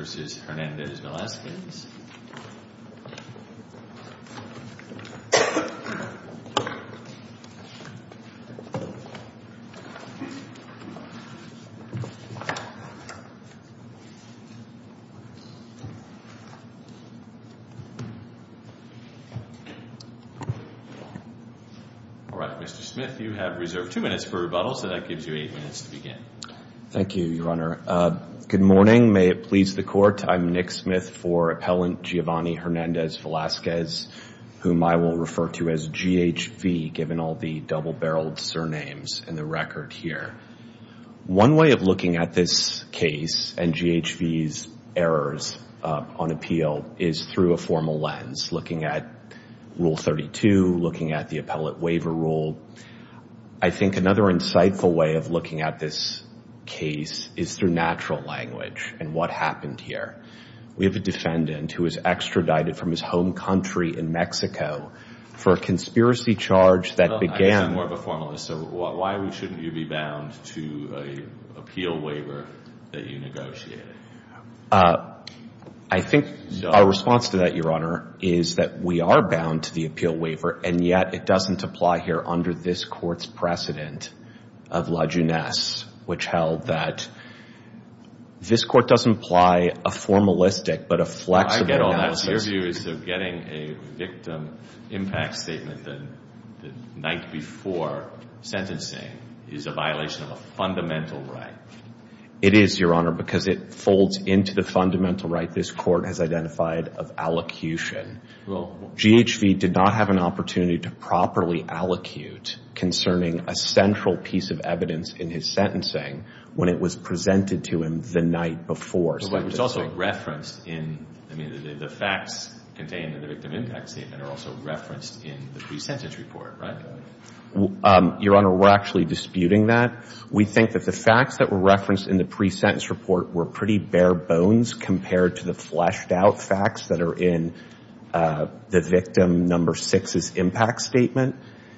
Mr. Smith, you have two minutes for rebuttal, so that gives you eight minutes to begin. Thank you, Your Honor. Good morning. May it please the court. I'm Nick Smith for Appellant Giovanni Hernandez-Velazquez, whom I will refer to as GHV, given all the double-barreled surnames in the record here. One way of looking at this case and GHV's errors on appeal is through a formal lens, looking at Rule 32, looking at the Appellate Waiver Rule. I think another insightful way of looking at this case is through natural language and what happened here. We have a defendant who was extradited from his home country in Mexico for a conspiracy charge that began... I'm more of a formalist, so why shouldn't you be bound to an appeal waiver that you negotiated? I think our response to that, Your Honor, is that we are bound to the appeal waiver, and yet it doesn't apply here under this court's precedent of la junesse, which held that this court doesn't apply a formalistic but a flexible analysis... My view is that getting a victim impact statement the night before sentencing is a violation of a fundamental right. It is, Your Honor, because it folds into the fundamental right this court has identified of allocution. GHV did not have an opportunity to properly allocute concerning a central piece of evidence in his sentencing when it was presented to him the night before. But it was also referenced in... I mean, the facts contained in the victim impact statement are also referenced in the pre-sentence report, right? Your Honor, we're actually disputing that. We think that the facts that were referenced in the pre-sentence report were pretty bare bones compared to the fleshed-out facts that are in the victim number six's impact statement.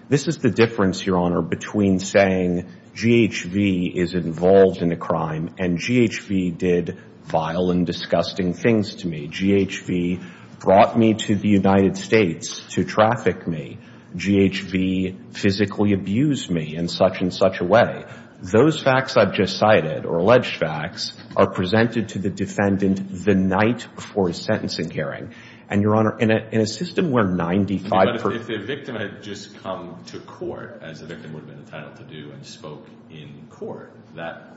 This is the difference, Your Honor, between saying GHV is involved in a crime and GHV did vile and disgusting things to me. GHV brought me to the United States to traffic me. GHV physically abused me in such and such a way. Those facts I've just cited, or alleged facts, are presented to the defendant the night before his sentencing hearing. And, Your Honor, in a system where 95 percent... But if the victim had just come to court, as the victim would have been entitled to do, and spoke in court, that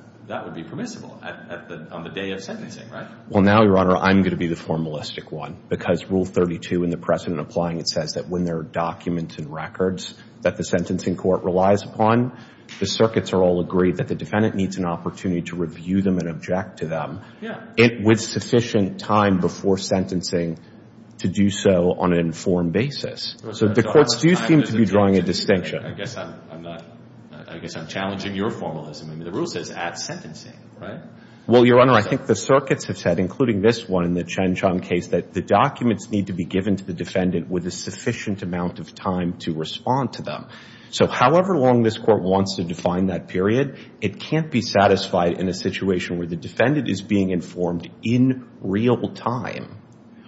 would be permissible on the day of sentencing, right? Well, now, Your Honor, I'm going to be the formalistic one. Because Rule 32 in the precedent applying it says that when there are documents and records that the sentencing court relies upon, the circuits are all agreed that the defendant needs an opportunity to review them and object to them with sufficient time before sentencing to do so on an informed basis. So the courts do seem to be drawing a distinction. I guess I'm challenging your formalism. I mean, the rule says at sentencing, right? Well, Your Honor, I think the circuits have said, including this one in the Chen Chong case, that the documents need to be given to the defendant with a sufficient amount of time to respond to them. So however long this court wants to define that period, it can't be satisfied in a situation where the defendant is being informed in real time,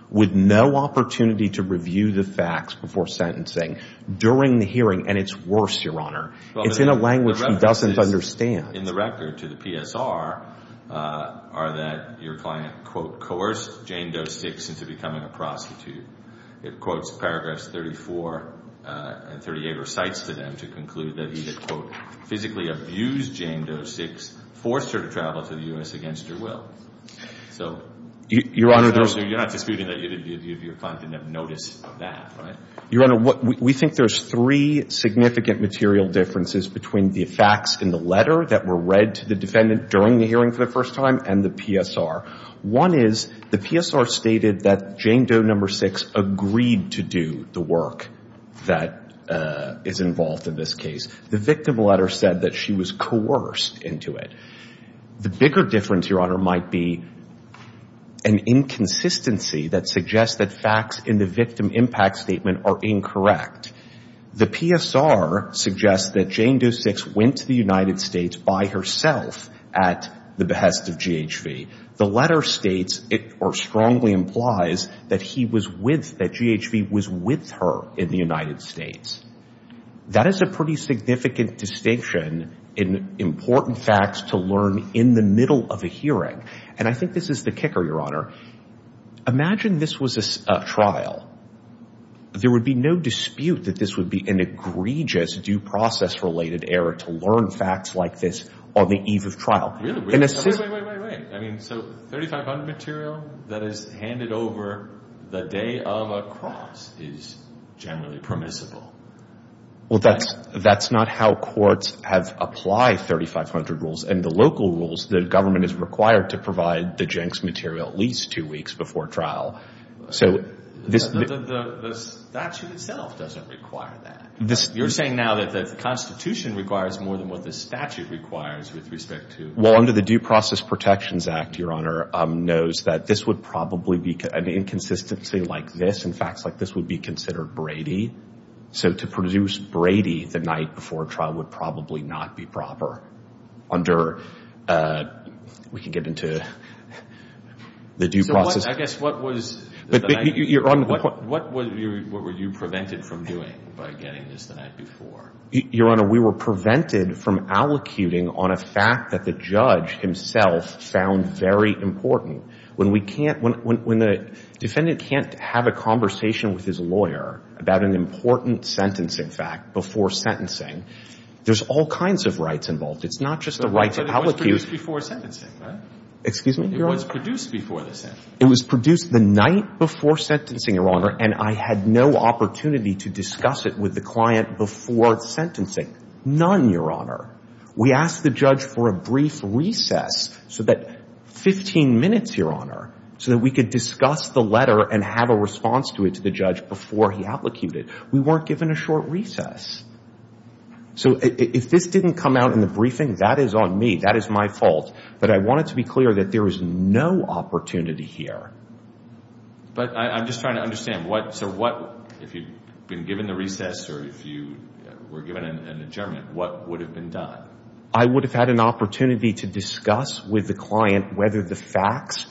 with no opportunity to review the facts before sentencing during the hearing. And it's worse, Your Honor. It's in a language he doesn't understand. In the record to the PSR are that your client, quote, coerced Jane Doe Six into becoming a prostitute. It quotes paragraphs 34 and 38 recites to them to conclude that he had, quote, physically abused Jane Doe Six, forced her to travel to the U.S. against her will. So, Your Honor, you're not disputing that your client didn't notice that, right? Your Honor, we think there's three significant material differences between the facts in the letter that were read to the defendant during the hearing for the first time and the PSR. One is the PSR stated that Jane Doe Number Six agreed to do the work that is involved in this case. The victim letter said that she was coerced into it. The bigger difference, Your Honor, might be an inconsistency that suggests that facts in the victim impact statement are incorrect. The PSR suggests that Jane Doe Six went to the United States by herself at the behest of GHV. The letter states, or strongly implies, that he was with, that GHV was with her in the United States. That is a pretty significant distinction in important facts to learn in the middle of a hearing. And I think this is the kicker, Your Honor. Imagine this was a trial. There would be no dispute that this would be an egregious due process-related error to learn facts like this on the eve of trial. Really? Wait, wait, wait, wait, wait. I mean, so 3,500 material that is handed over the day of a cross is generally permissible. Well, that's not how courts have applied 3,500 rules. And the local rules, the government is required to provide the Jenks material at least two weeks before trial. So this... The statute itself doesn't require that. You're saying now that the Constitution requires more than what the statute requires with respect to... Well, under the Due Process Protections Act, Your Honor, knows that this would probably be an inconsistency like this. And facts like this would be considered Brady. So to produce Brady the night before trial would probably not be proper under... We can get into the due process... I guess what was... What were you prevented from doing by getting this the night before? Your Honor, we were prevented from allocuting on a fact that the judge himself found very important. When we can't, when the defendant can't have a conversation with his lawyer about an important sentencing fact before sentencing, there's all kinds of rights involved. It's not just the right to allocute... But it was produced before sentencing, right? Excuse me, Your Honor? It was produced before the sentence. It was produced the night before sentencing, Your Honor, and I had no opportunity to discuss it with the client before sentencing. None, Your Honor. We asked the judge for a brief recess, 15 minutes, Your Honor, so that we could discuss the letter and have a response to it to the judge before he allocated. We weren't given a short recess. So if this didn't come out in the briefing, that is on me. That is my fault. But I wanted to be clear that there was no opportunity here. But I'm just trying to understand what... So what... If you'd been given the recess or if you were given an adjournment, what would have been done? I would have had an opportunity to discuss with the client whether the facts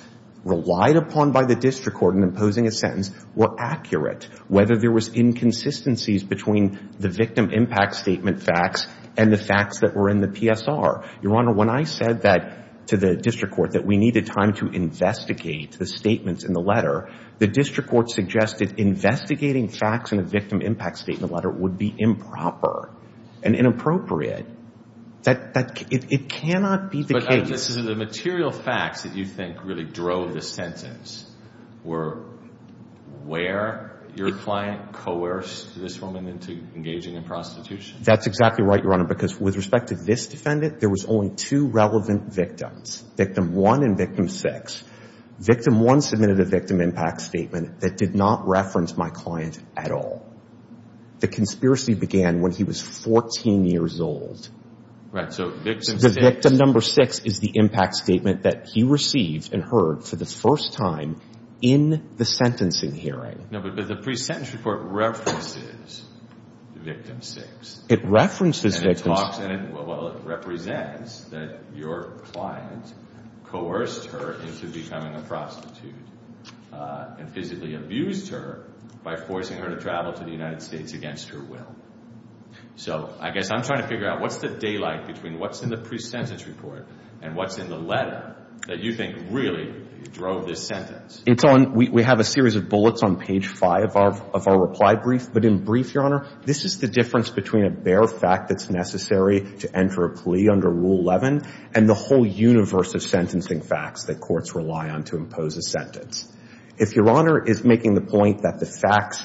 relied upon by the district court in imposing a sentence were accurate, whether there was inconsistencies between the victim impact statement facts and the facts that were in the PSR. Your Honor, when I said that to the district court, that we needed time to investigate the statements in the letter, the district court suggested investigating facts in a victim impact statement letter would be improper. And inappropriate. It cannot be the case... But this is the material facts that you think really drove the sentence were where your client coerced this woman into engaging in prostitution. That's exactly right, Your Honor. Because with respect to this defendant, there was only two relevant victims, victim one and victim six. Victim one submitted a victim impact statement that did not reference my client at all. The conspiracy began when he was 14 years old. Right. So victim six... The victim number six is the impact statement that he received and heard for the first time in the sentencing hearing. No, but the pre-sentence report references victim six. It references victim six. Well, it represents that your client coerced her into becoming a prostitute and physically abused her by forcing her to travel to the United States against her will. So I guess I'm trying to figure out what's the daylight between what's in the pre-sentence report and what's in the letter that you think really drove this sentence. It's on... We have a series of bullets on page five of our reply brief, but in brief, Your Honor, this is the difference between a bare fact that's necessary to enter a plea under Rule 11 and the whole universe of sentencing facts that courts rely on to impose a sentence. If Your Honor is making the point that the facts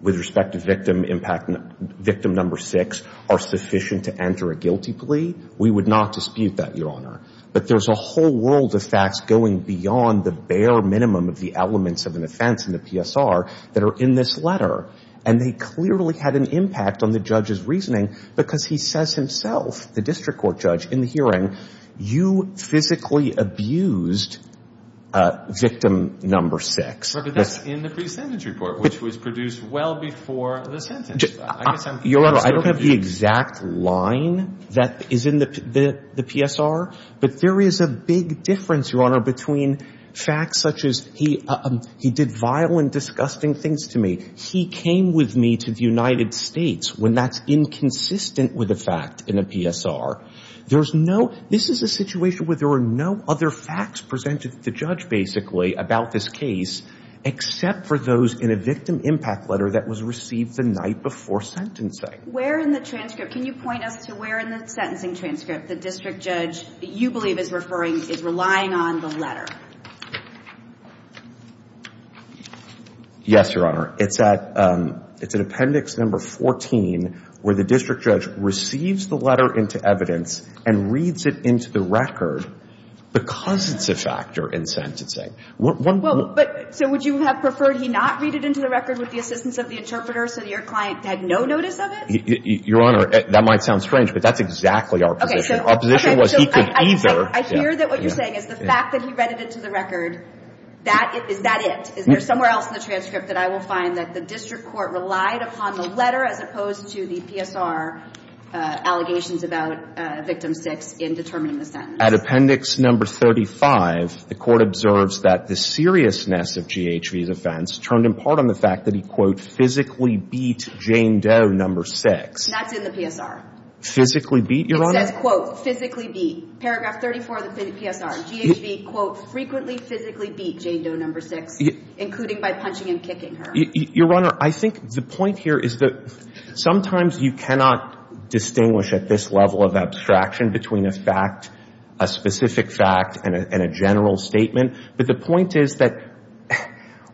with respect to victim impact... victim number six are sufficient to enter a guilty plea, we would not dispute that, Your Honor. But there's a whole world of facts going beyond the bare minimum of the elements of an offense in the PSR that are in this letter. And they clearly had an impact on the judge's reasoning because he says himself, the district court judge, in the hearing, you physically abused victim number six. But that's in the pre-sentence report, which was produced well before the sentence. Your Honor, I don't have the exact line that is in the PSR, but there is a big difference, Your Honor, between facts such as he did vile and disgusting things to me. He came with me to the United States when that's inconsistent with a fact in a PSR. This is a situation where there are no other facts presented to the judge, basically, about this case, except for those in a victim impact letter that was received the night before sentencing. Can you point us to where in the sentencing transcript the district judge you believe is relying on the letter? Yes, Your Honor. It's at appendix number 14, where the district judge receives the letter into evidence and reads it into the record because it's a factor in sentencing. So would you have preferred he not read it into the record with the assistance of the interpreter so that your client had no notice of it? Your Honor, that might sound strange, but that's exactly our position. Our position was he could either... I hear that what you're saying is the fact that he read it into the record, is that it? Is there somewhere else in the transcript that I will find that the district court relied upon the letter as opposed to the PSR allegations about victim six in determining the sentence? At appendix number 35, the court observes that the seriousness of GHV's offense turned in part on the fact that he, quote, physically beat Jane Doe number six. That's in the PSR. Physically beat, Your Honor? It says, quote, physically beat. Paragraph 34 of the PSR. GHV, quote, frequently physically beat Jane Doe number six. Including by punching and kicking her. Your Honor, I think the point here is that sometimes you cannot distinguish at this level of abstraction between a fact, a specific fact, and a general statement. But the point is that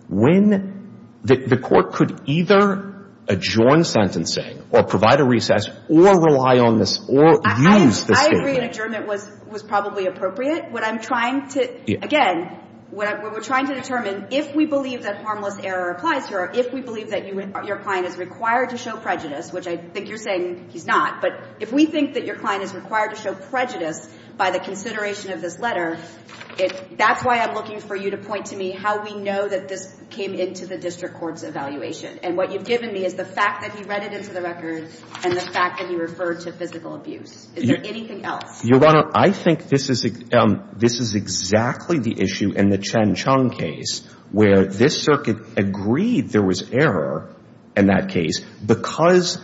when the court could either adjourn sentencing or provide a recess or rely on this or use this statement... I agree an adjournment was probably appropriate. What I'm trying to... Again, what we're trying to determine, if we believe that harmless error applies here, if we believe that your client is required to show prejudice, which I think you're saying he's not, but if we think that your client is required to show prejudice by the consideration of this letter, that's why I'm looking for you to point to me how we know that this came into the district court's evaluation. And what you've given me is the fact that he read it into the record and the fact that he referred to physical abuse. Is there anything else? Your Honor, I think this is exactly the issue in the Chen Chung case where this circuit agreed there was error in that case because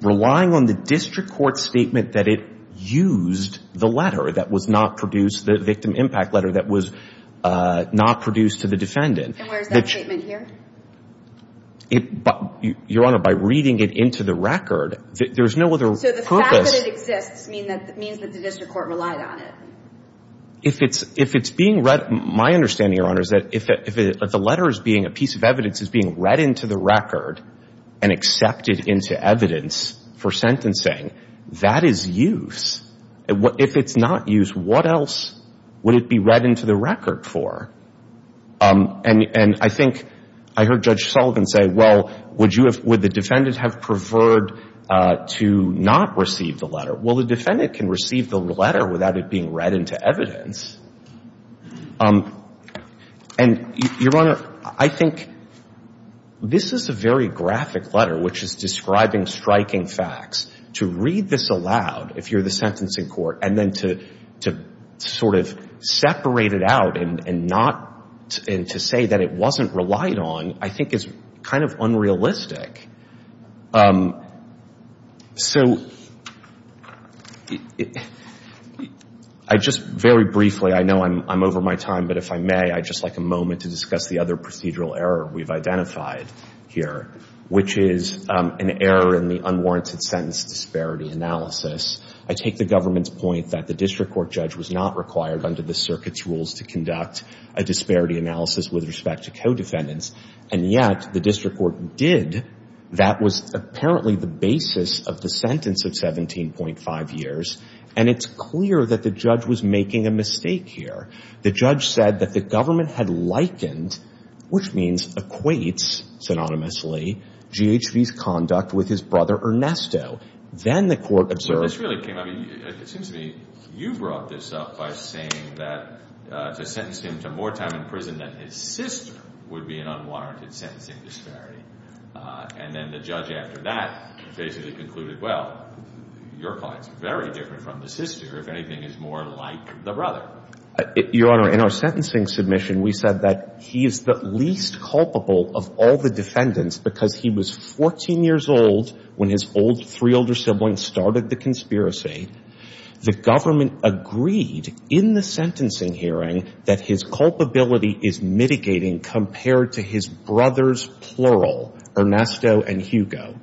relying on the district court statement that it used the letter that was not produced, the victim impact letter that was not produced to the defendant... And where's that statement here? Your Honor, by reading it into the record, there's no other purpose... So the fact that it exists means that the district court relied on it. If it's being read... My understanding, Your Honor, is that if the letter is being... A piece of evidence is being read into the record and accepted into evidence for sentencing, that is use. If it's not use, what else would it be read into the record for? And I think I heard Judge Sullivan say, well, would the defendant have preferred to not receive the letter? Well, the defendant can receive the letter without it being read into evidence. And, Your Honor, I think this is a very graphic letter, which is describing striking facts. To read this aloud, if you're the sentencing court, and then to sort of separate it out and to say that it wasn't relied on, I think is kind of unrealistic. So I just very briefly, I know I'm over my time, but if I may, I'd just like a moment to discuss the other procedural error we've identified here, which is an error in the unwarranted sentence disparity analysis. I take the government's point that the district court judge was not required under the circuit's rules to conduct a disparity analysis with respect to co-defendants. And yet the district court did. That was apparently the basis of the sentence of 17.5 years. And it's clear that the judge was making a mistake here. The judge said that the government had likened, which means equates synonymously, GHV's conduct with his brother Ernesto. Then the court observed... But this really came up, it seems to me, you brought this up by saying that to sentence him to more time in prison that his sister would be an unwarranted sentencing disparity. And then the judge after that basically concluded, well, your client's very different from the sister, if anything, is more like the brother. Your Honor, in our sentencing submission, we said that he is the least culpable of all the defendants because he was 14 years old when his old three older siblings started the conspiracy. The government agreed in the sentencing hearing that his culpability is mitigating compared to his brothers, plural, Ernesto and Hugo.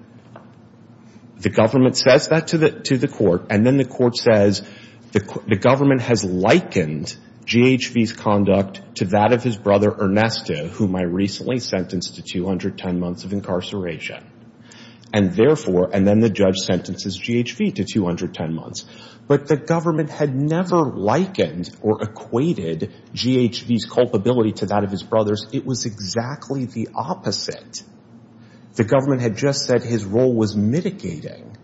The government says that to the court, and then the court says the government has likened GHV's conduct to that of his brother Ernesto, whom I recently sentenced to 210 months of incarceration. And therefore, and then the judge sentences GHV to 210 months. But the government had never likened or equated GHV's culpability to that of his brothers. It was exactly the opposite. The government had just said his role was mitigating.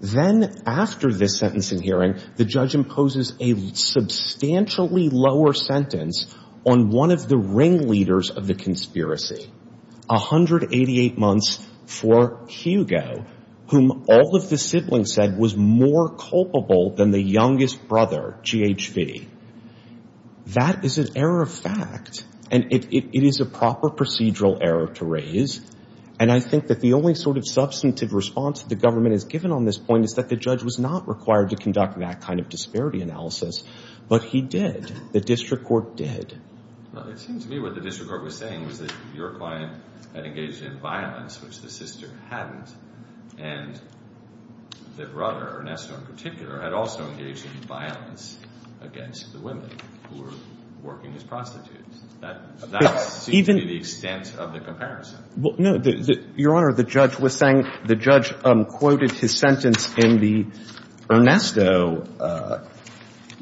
Then after this sentencing hearing, the judge imposes a substantially lower sentence on one of the ringleaders of the conspiracy, 188 months for Hugo, whom all of the siblings said was more culpable than the youngest brother, GHV. That is an error of fact, and it is a proper procedural error to raise. And I think that the only sort of substantive response that the government has given on this point is that the judge was not required to conduct that kind of disparity analysis. But he did. The district court did. Well, it seems to me what the district court was saying was that your client had engaged in violence, which the sister hadn't, and the brother, Ernesto in particular, had also engaged in violence against the women who were working as prostitutes. That seems to be the extent of the comparison. No, Your Honor, the judge was saying, the judge quoted his sentence in the Ernesto.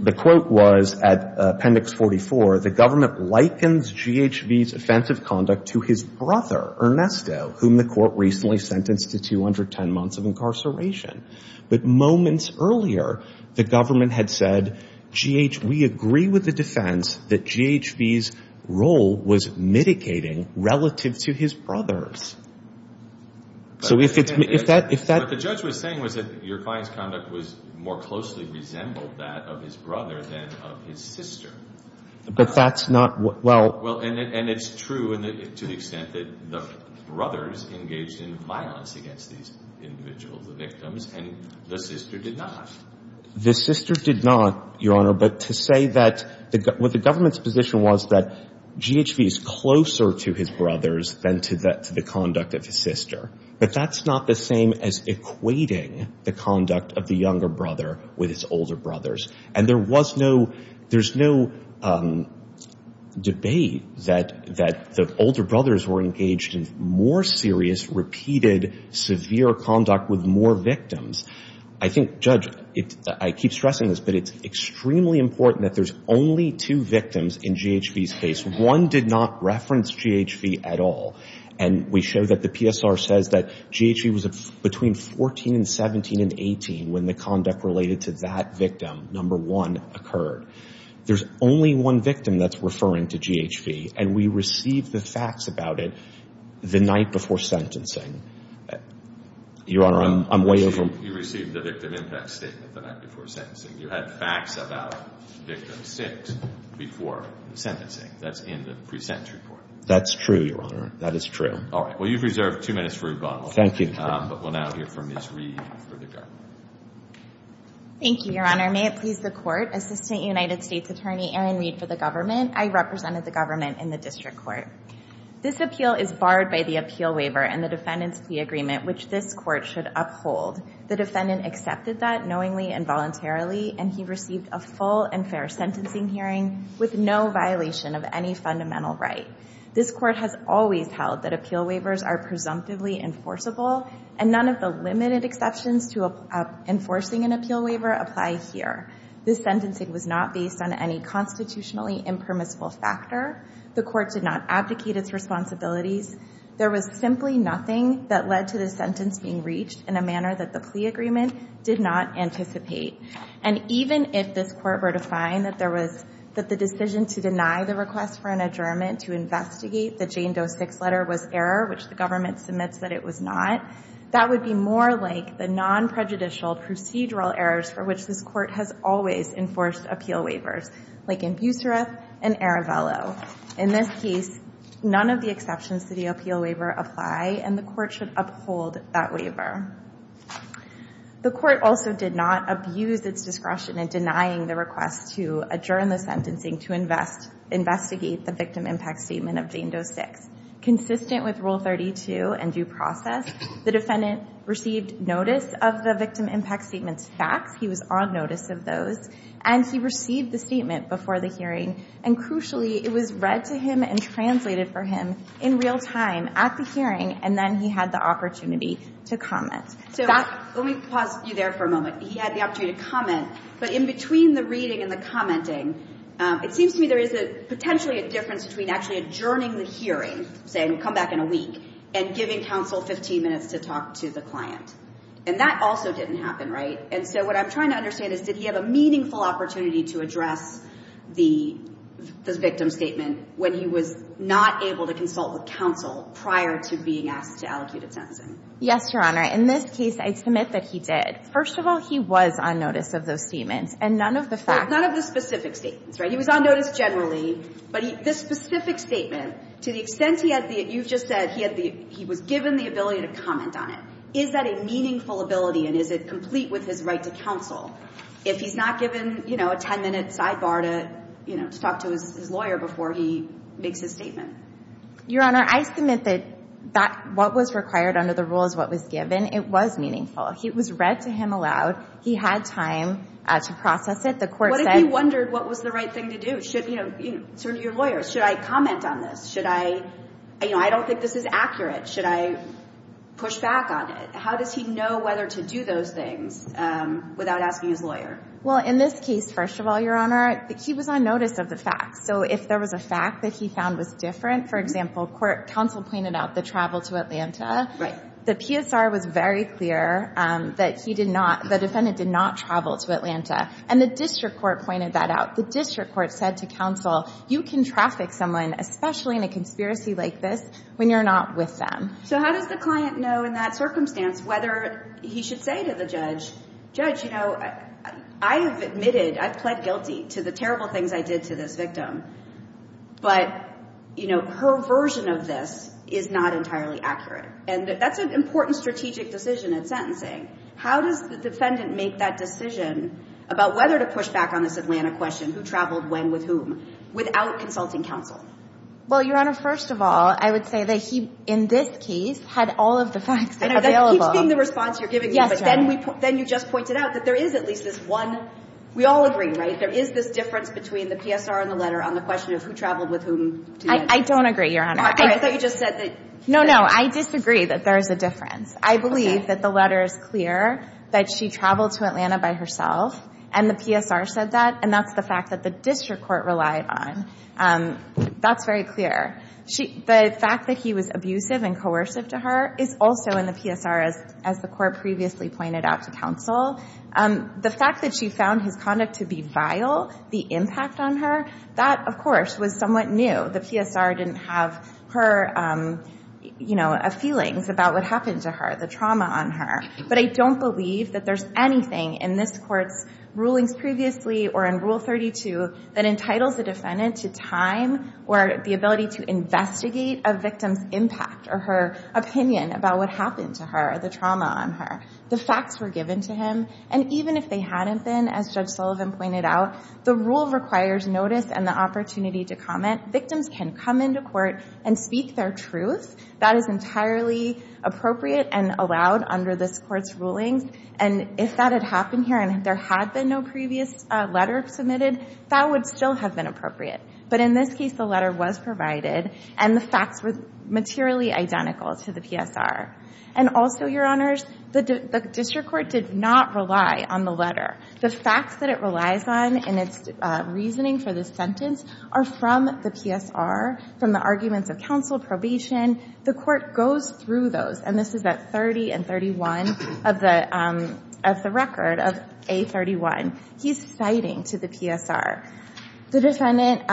The quote was at Appendix 44, the government likens GHV's offensive conduct to his brother, Ernesto, whom the court recently sentenced to 210 months of incarceration. But moments earlier, the government had said, GH, we agree with the defense that GHV's role was mitigating relative to his brother's. So if it's, if that, if that. What the judge was saying was that your client's conduct was more closely resembled that of his brother than of his sister. But that's not, well. Well, and it's true to the extent that the brothers engaged in violence against these individuals, the victims, and the sister did not. The sister did not, Your Honor, but to say that, what the government's position was that GHV is closer to his brothers than to the conduct of his sister. But that's not the same as equating the conduct of the younger brother with his older brothers. And there was no, there's no debate that the older brothers were engaged in more serious, repeated, severe conduct with more victims. I think, Judge, I keep stressing this, but it's extremely important that there's only two victims in GHV's case. One did not reference GHV at all. And we show that the PSR says that GHV was between 14 and 17 and 18 when the conduct related to that victim. Number one occurred. There's only one victim that's referring to GHV, and we received the facts about it the night before sentencing. Your Honor, I'm way over. You received the victim impact statement the night before sentencing. You had facts about victim six before the sentencing. That's in the pre-sentence report. That's true, Your Honor. That is true. All right, well, you've reserved two minutes for rebuttal. Thank you. But we'll now hear from Ms. Reed for the government. Thank you, Your Honor. May it please the court, Assistant United States Attorney Erin Reed for the government. I represented the government in the district court. This appeal is barred by the appeal waiver and the defendant's plea agreement, which this court should uphold. The defendant accepted that knowingly and voluntarily, and he received a full and fair sentencing hearing with no violation of any fundamental right. This court has always held that appeal waivers are presumptively enforceable, and none of the limited exceptions to enforcing an appeal waiver apply here. This sentencing was not based on any constitutionally impermissible factor. The court did not abdicate its responsibilities. There was simply nothing that led to the sentence being reached in a manner that the plea agreement did not anticipate. And even if this court were to find that the decision to deny the request for an adjournment to investigate the Jane Doe six letter was error, which the government submits that it was not, that would be more like the non-prejudicial procedural errors for which this court has always enforced appeal waivers, like in Busserath and Arevelo. In this case, none of the exceptions to the appeal waiver apply, and the court should uphold that waiver. The court also did not abuse its discretion in denying the request to adjourn the sentencing to invest, investigate the victim impact statement of Jane Doe six. Consistent with rule 32 and due process, the defendant received notice of the victim impact statement's facts. He was on notice of those, and he received the statement before the hearing, and crucially it was read to him and translated for him in real time at the hearing, and then he had the opportunity to comment. So let me pause you there for a moment. He had the opportunity to comment, but in between the reading and the commenting, it seems to me there is a potentially a difference between actually adjourning the hearing, saying we'll come back in a week, and giving counsel 15 minutes to talk to the client, and that also didn't happen, right? And so what I'm trying to understand is did he have a meaningful opportunity to address the victim statement when he was not able to consult with counsel prior to being asked to allocate a sentencing? Yes, Your Honor. In this case, I submit that he did. First of all, he was on notice of those statements, and none of the facts. None of the specific statements, right? He was on notice generally, but this specific statement, to the extent he had the, you've just said he had the, he was given the ability to comment on it. Is that a meaningful ability, and is it complete with his right to counsel if he's not given, you know, a 10-minute sidebar to, you know, to talk to his lawyer before he makes his statement? Your Honor, I submit that what was required under the rule is what was given. It was meaningful. It was read to him aloud. He had time to process it. The court said- What if he wondered what was the right thing to do? Should, you know, to your lawyers, should I comment on this? Should I, you know, I don't think this is accurate. Should I push back on it? How does he know whether to do those things without asking his lawyer? Well, in this case, first of all, Your Honor, he was on notice of the facts. So if there was a fact that he found was different, for example, counsel pointed out the travel to Atlanta. Right. The PSR was very clear that he did not, the defendant did not travel to Atlanta. And the district court pointed that out. The district court said to counsel, you can traffic someone, especially in a conspiracy like this, when you're not with them. So how does the client know in that circumstance whether he should say to the judge, Judge, you know, I have admitted, I've pled guilty to the terrible things I did to this victim. But, you know, her version of this is not entirely accurate. And that's an important strategic decision in sentencing. How does the defendant make that decision about whether to push back on this Atlanta question, who traveled when with whom, without consulting counsel? Well, Your Honor, first of all, I would say that he, in this case, had all of the facts. And that keeps being the response you're giving me. But then we, then you just pointed out that there is at least this one. We all agree, right? There is this difference between the PSR and the letter on the question of who traveled with whom. I don't agree, Your Honor. I thought you just said that. No, no, I disagree that there is a difference. I believe that the letter is clear that she traveled to Atlanta by herself. And the PSR said that. And that's the fact that the district court relied on. That's very clear. The fact that he was abusive and coercive to her is also in the PSR, as the court previously pointed out to counsel. The fact that she found his conduct to be vile, the impact on her, that, of course, was somewhat new. The PSR didn't have her feelings about what happened to her, the trauma on her. But I don't believe that there's anything in this court's rulings previously or in Rule 32 that entitles the defendant to time or the ability to investigate a victim's impact or her opinion about what happened to her, the trauma on her, the facts were given to him. And even if they hadn't been, as Judge Sullivan pointed out, the rule requires notice and the opportunity to comment. Victims can come into court and speak their truth. That is entirely appropriate and allowed under this court's rulings. And if that had happened here and there had been no previous letter submitted, that would still have been appropriate. But in this case, the letter was provided and the facts were materially identical to the PSR. And also, Your Honors, the district court did not rely on the letter. The facts that it relies on in its reasoning for this sentence are from the PSR, from the arguments of counsel, probation. The court goes through those, and this is at 30 and 31 of the record of A31. He's citing to the PSR the defendant,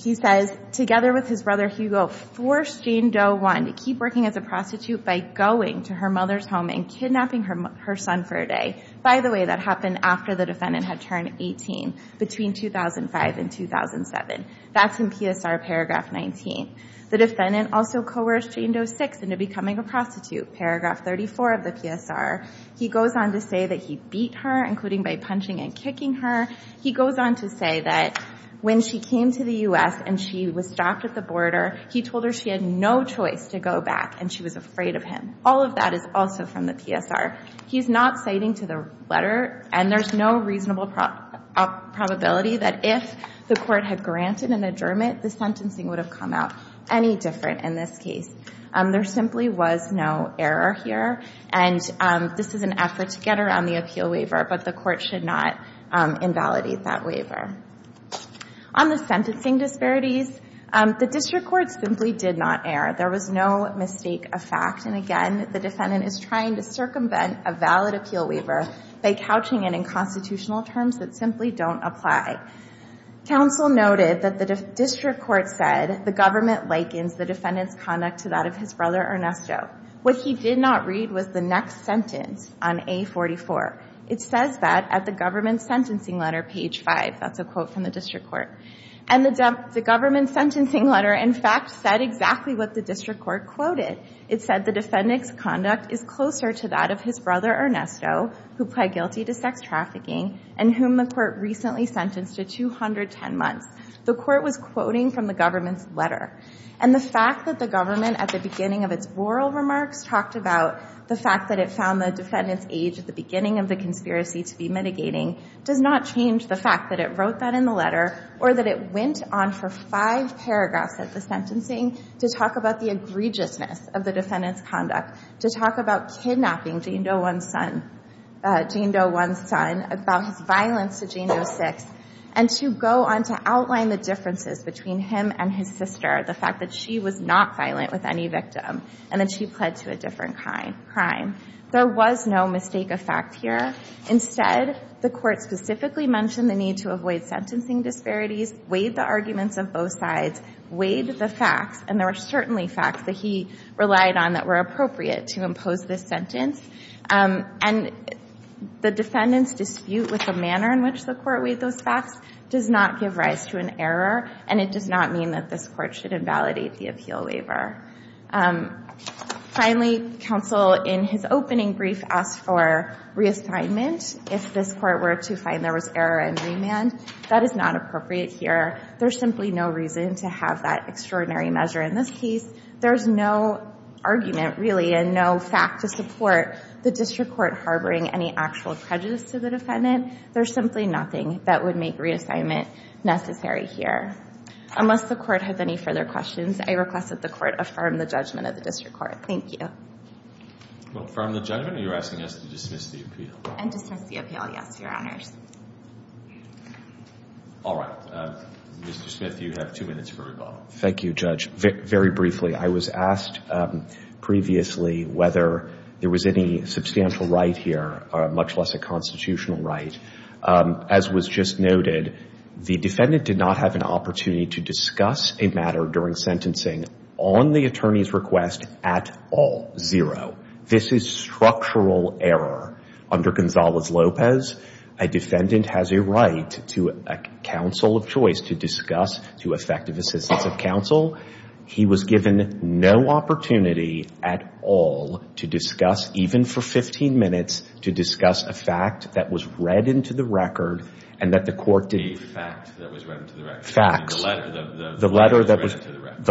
he says, together with his brother Hugo, forced Jane Doe 1 to keep working as a prostitute by going to her mother's home and kidnapping her son for a day. By the way, that happened after the defendant had turned 18, between 2005 and 2007. That's in PSR paragraph 19. The defendant also coerced Jane Doe 6 into becoming a prostitute, paragraph 34 of the PSR. He goes on to say that he beat her, including by punching and kicking her. He goes on to say that when she came to the U.S. and she was stopped at the border, he told her she had no choice to go back, and she was afraid of him. All of that is also from the PSR. He's not citing to the letter, and there's no reasonable probability that if the court had granted an adjournment, the sentencing would have come out any different in this case. There simply was no error here, and this is an effort to get around the appeal waiver, but the court should not invalidate that waiver. On the sentencing disparities, the district court simply did not err. There was no mistake of fact, and again, the defendant is trying to circumvent a valid appeal waiver by couching it in constitutional terms that simply don't apply. Counsel noted that the district court said the government likens the defendant's conduct to that of his brother Ernesto. What he did not read was the next sentence on A44. It says that at the government's sentencing letter, page five. That's a quote from the district court. And the government's sentencing letter, in fact, said exactly what the district court quoted. It said the defendant's conduct is closer to that of his brother Ernesto, who pled guilty to sex trafficking, and whom the court recently sentenced to 210 months. The court was quoting from the government's letter, and the fact that the government at the beginning of its oral remarks talked about the fact that it found the defendant's age at the beginning of the conspiracy to be mitigating does not change the fact that it wrote that in the letter or that it went on for five paragraphs at the sentencing to talk about the egregiousness of the defendant's conduct, to talk about kidnapping Jane Doe 1's son, Jane Doe 1's son, about his violence to Jane Doe 6, and to go on to outline the differences between him and his sister, the fact that she was not violent with any victim, and that she pled to a different crime. There was no mistake of fact here. Instead, the court specifically mentioned the need to avoid sentencing disparities, weighed the arguments of both sides, weighed the facts, and there were certainly facts that he relied on that were appropriate to impose this sentence. And the defendant's dispute with the manner in which the court weighed those facts does not give rise to an error, and it does not mean that this court should invalidate the appeal waiver. Finally, counsel, in his opening brief, asked for reassignment if this court were to find there was error in remand. That is not appropriate here. There's simply no reason to have that extraordinary measure in this case. There's no argument, really, and no fact to support the district court harboring any actual prejudice to the defendant. There's simply nothing that would make reassignment necessary here. Unless the court has any further questions, I request that the court affirm the judgment of the district court. Thank you. Well, affirm the judgment, or you're asking us to dismiss the appeal? And dismiss the appeal, yes, Your Honors. All right. Mr. Smith, you have two minutes for rebuttal. Thank you, Judge. Very briefly, I was asked previously whether there was any substantial right here, much less a constitutional right. As was just noted, the defendant did not have an opportunity to discuss a matter during sentencing on the attorney's request at all. This is structural error. Under Gonzalez-Lopez, a defendant has a right to a counsel of choice to discuss, to effective assistance of counsel. He was given no opportunity at all to discuss, even for 15 minutes, to discuss a fact that was read into the record and that the court didn't... A fact that was read into the record? Facts. The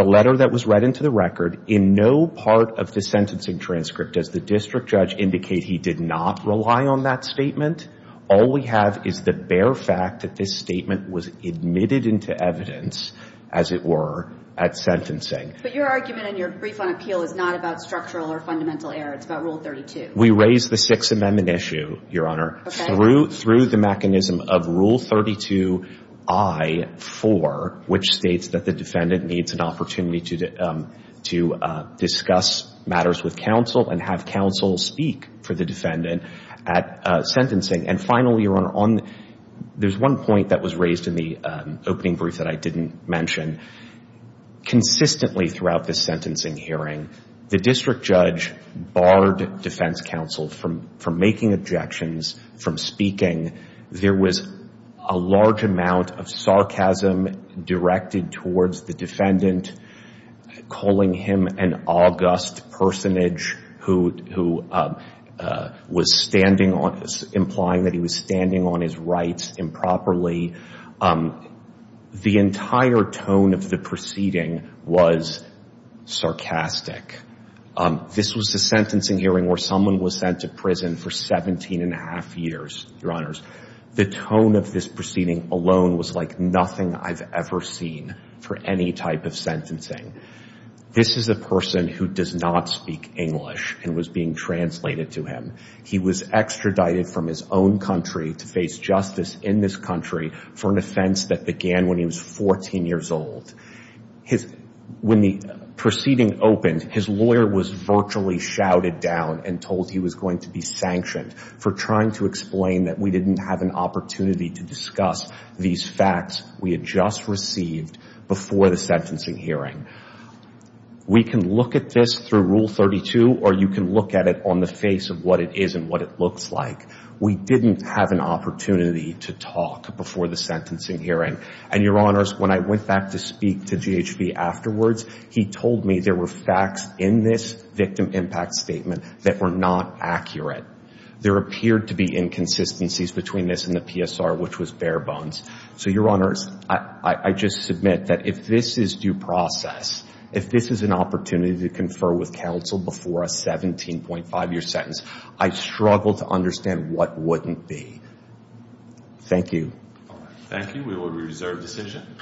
letter that was read into the record. In no part of the sentencing transcript, does the district judge indicate he did not rely on that statement? All we have is the bare fact that this statement was admitted into evidence, as it were, at sentencing. But your argument in your brief on appeal is not about structural or fundamental error. It's about Rule 32. We raised the Sixth Amendment issue, Your Honor, through the mechanism of Rule 32-I-4, which states that the defendant needs an opportunity to discuss matters with counsel and have counsel speak for the defendant at sentencing. And finally, Your Honor, there's one point that was raised in the opening brief that I didn't mention. Consistently throughout this sentencing hearing, the district judge barred defense counsel from making objections, from speaking. There was a large amount of sarcasm directed towards the defendant, calling him an august personage who was standing on, implying that he was standing on his rights improperly. The entire tone of the proceeding was sarcastic. This was a sentencing hearing where someone was sent to prison for 17 and a half years, Your Honors. The tone of this proceeding alone was like nothing I've ever seen for any type of sentencing. This is a person who does not speak English and was being translated to him. He was extradited from his own country to face justice in this country for an offense that began when he was 14 years old. When the proceeding opened, his lawyer was virtually shouted down and told he was going to be sanctioned for trying to explain that we didn't have an opportunity to discuss these facts we had just received before the sentencing hearing. We can look at this through Rule 32 or you can look at it on the face of what it is and what it looks like. We didn't have an opportunity to talk before the sentencing hearing. And Your Honors, when I went back to speak to GHB afterwards, he told me there were facts in this victim impact statement that were not accurate. There appeared to be inconsistencies between this and the PSR, which was bare bones. So Your Honors, I just submit that if this is due process, if this is an opportunity to confer with counsel before a 17.5-year sentence, I struggle to understand what wouldn't be. Thank you. All right. Thank you. We will reserve decision.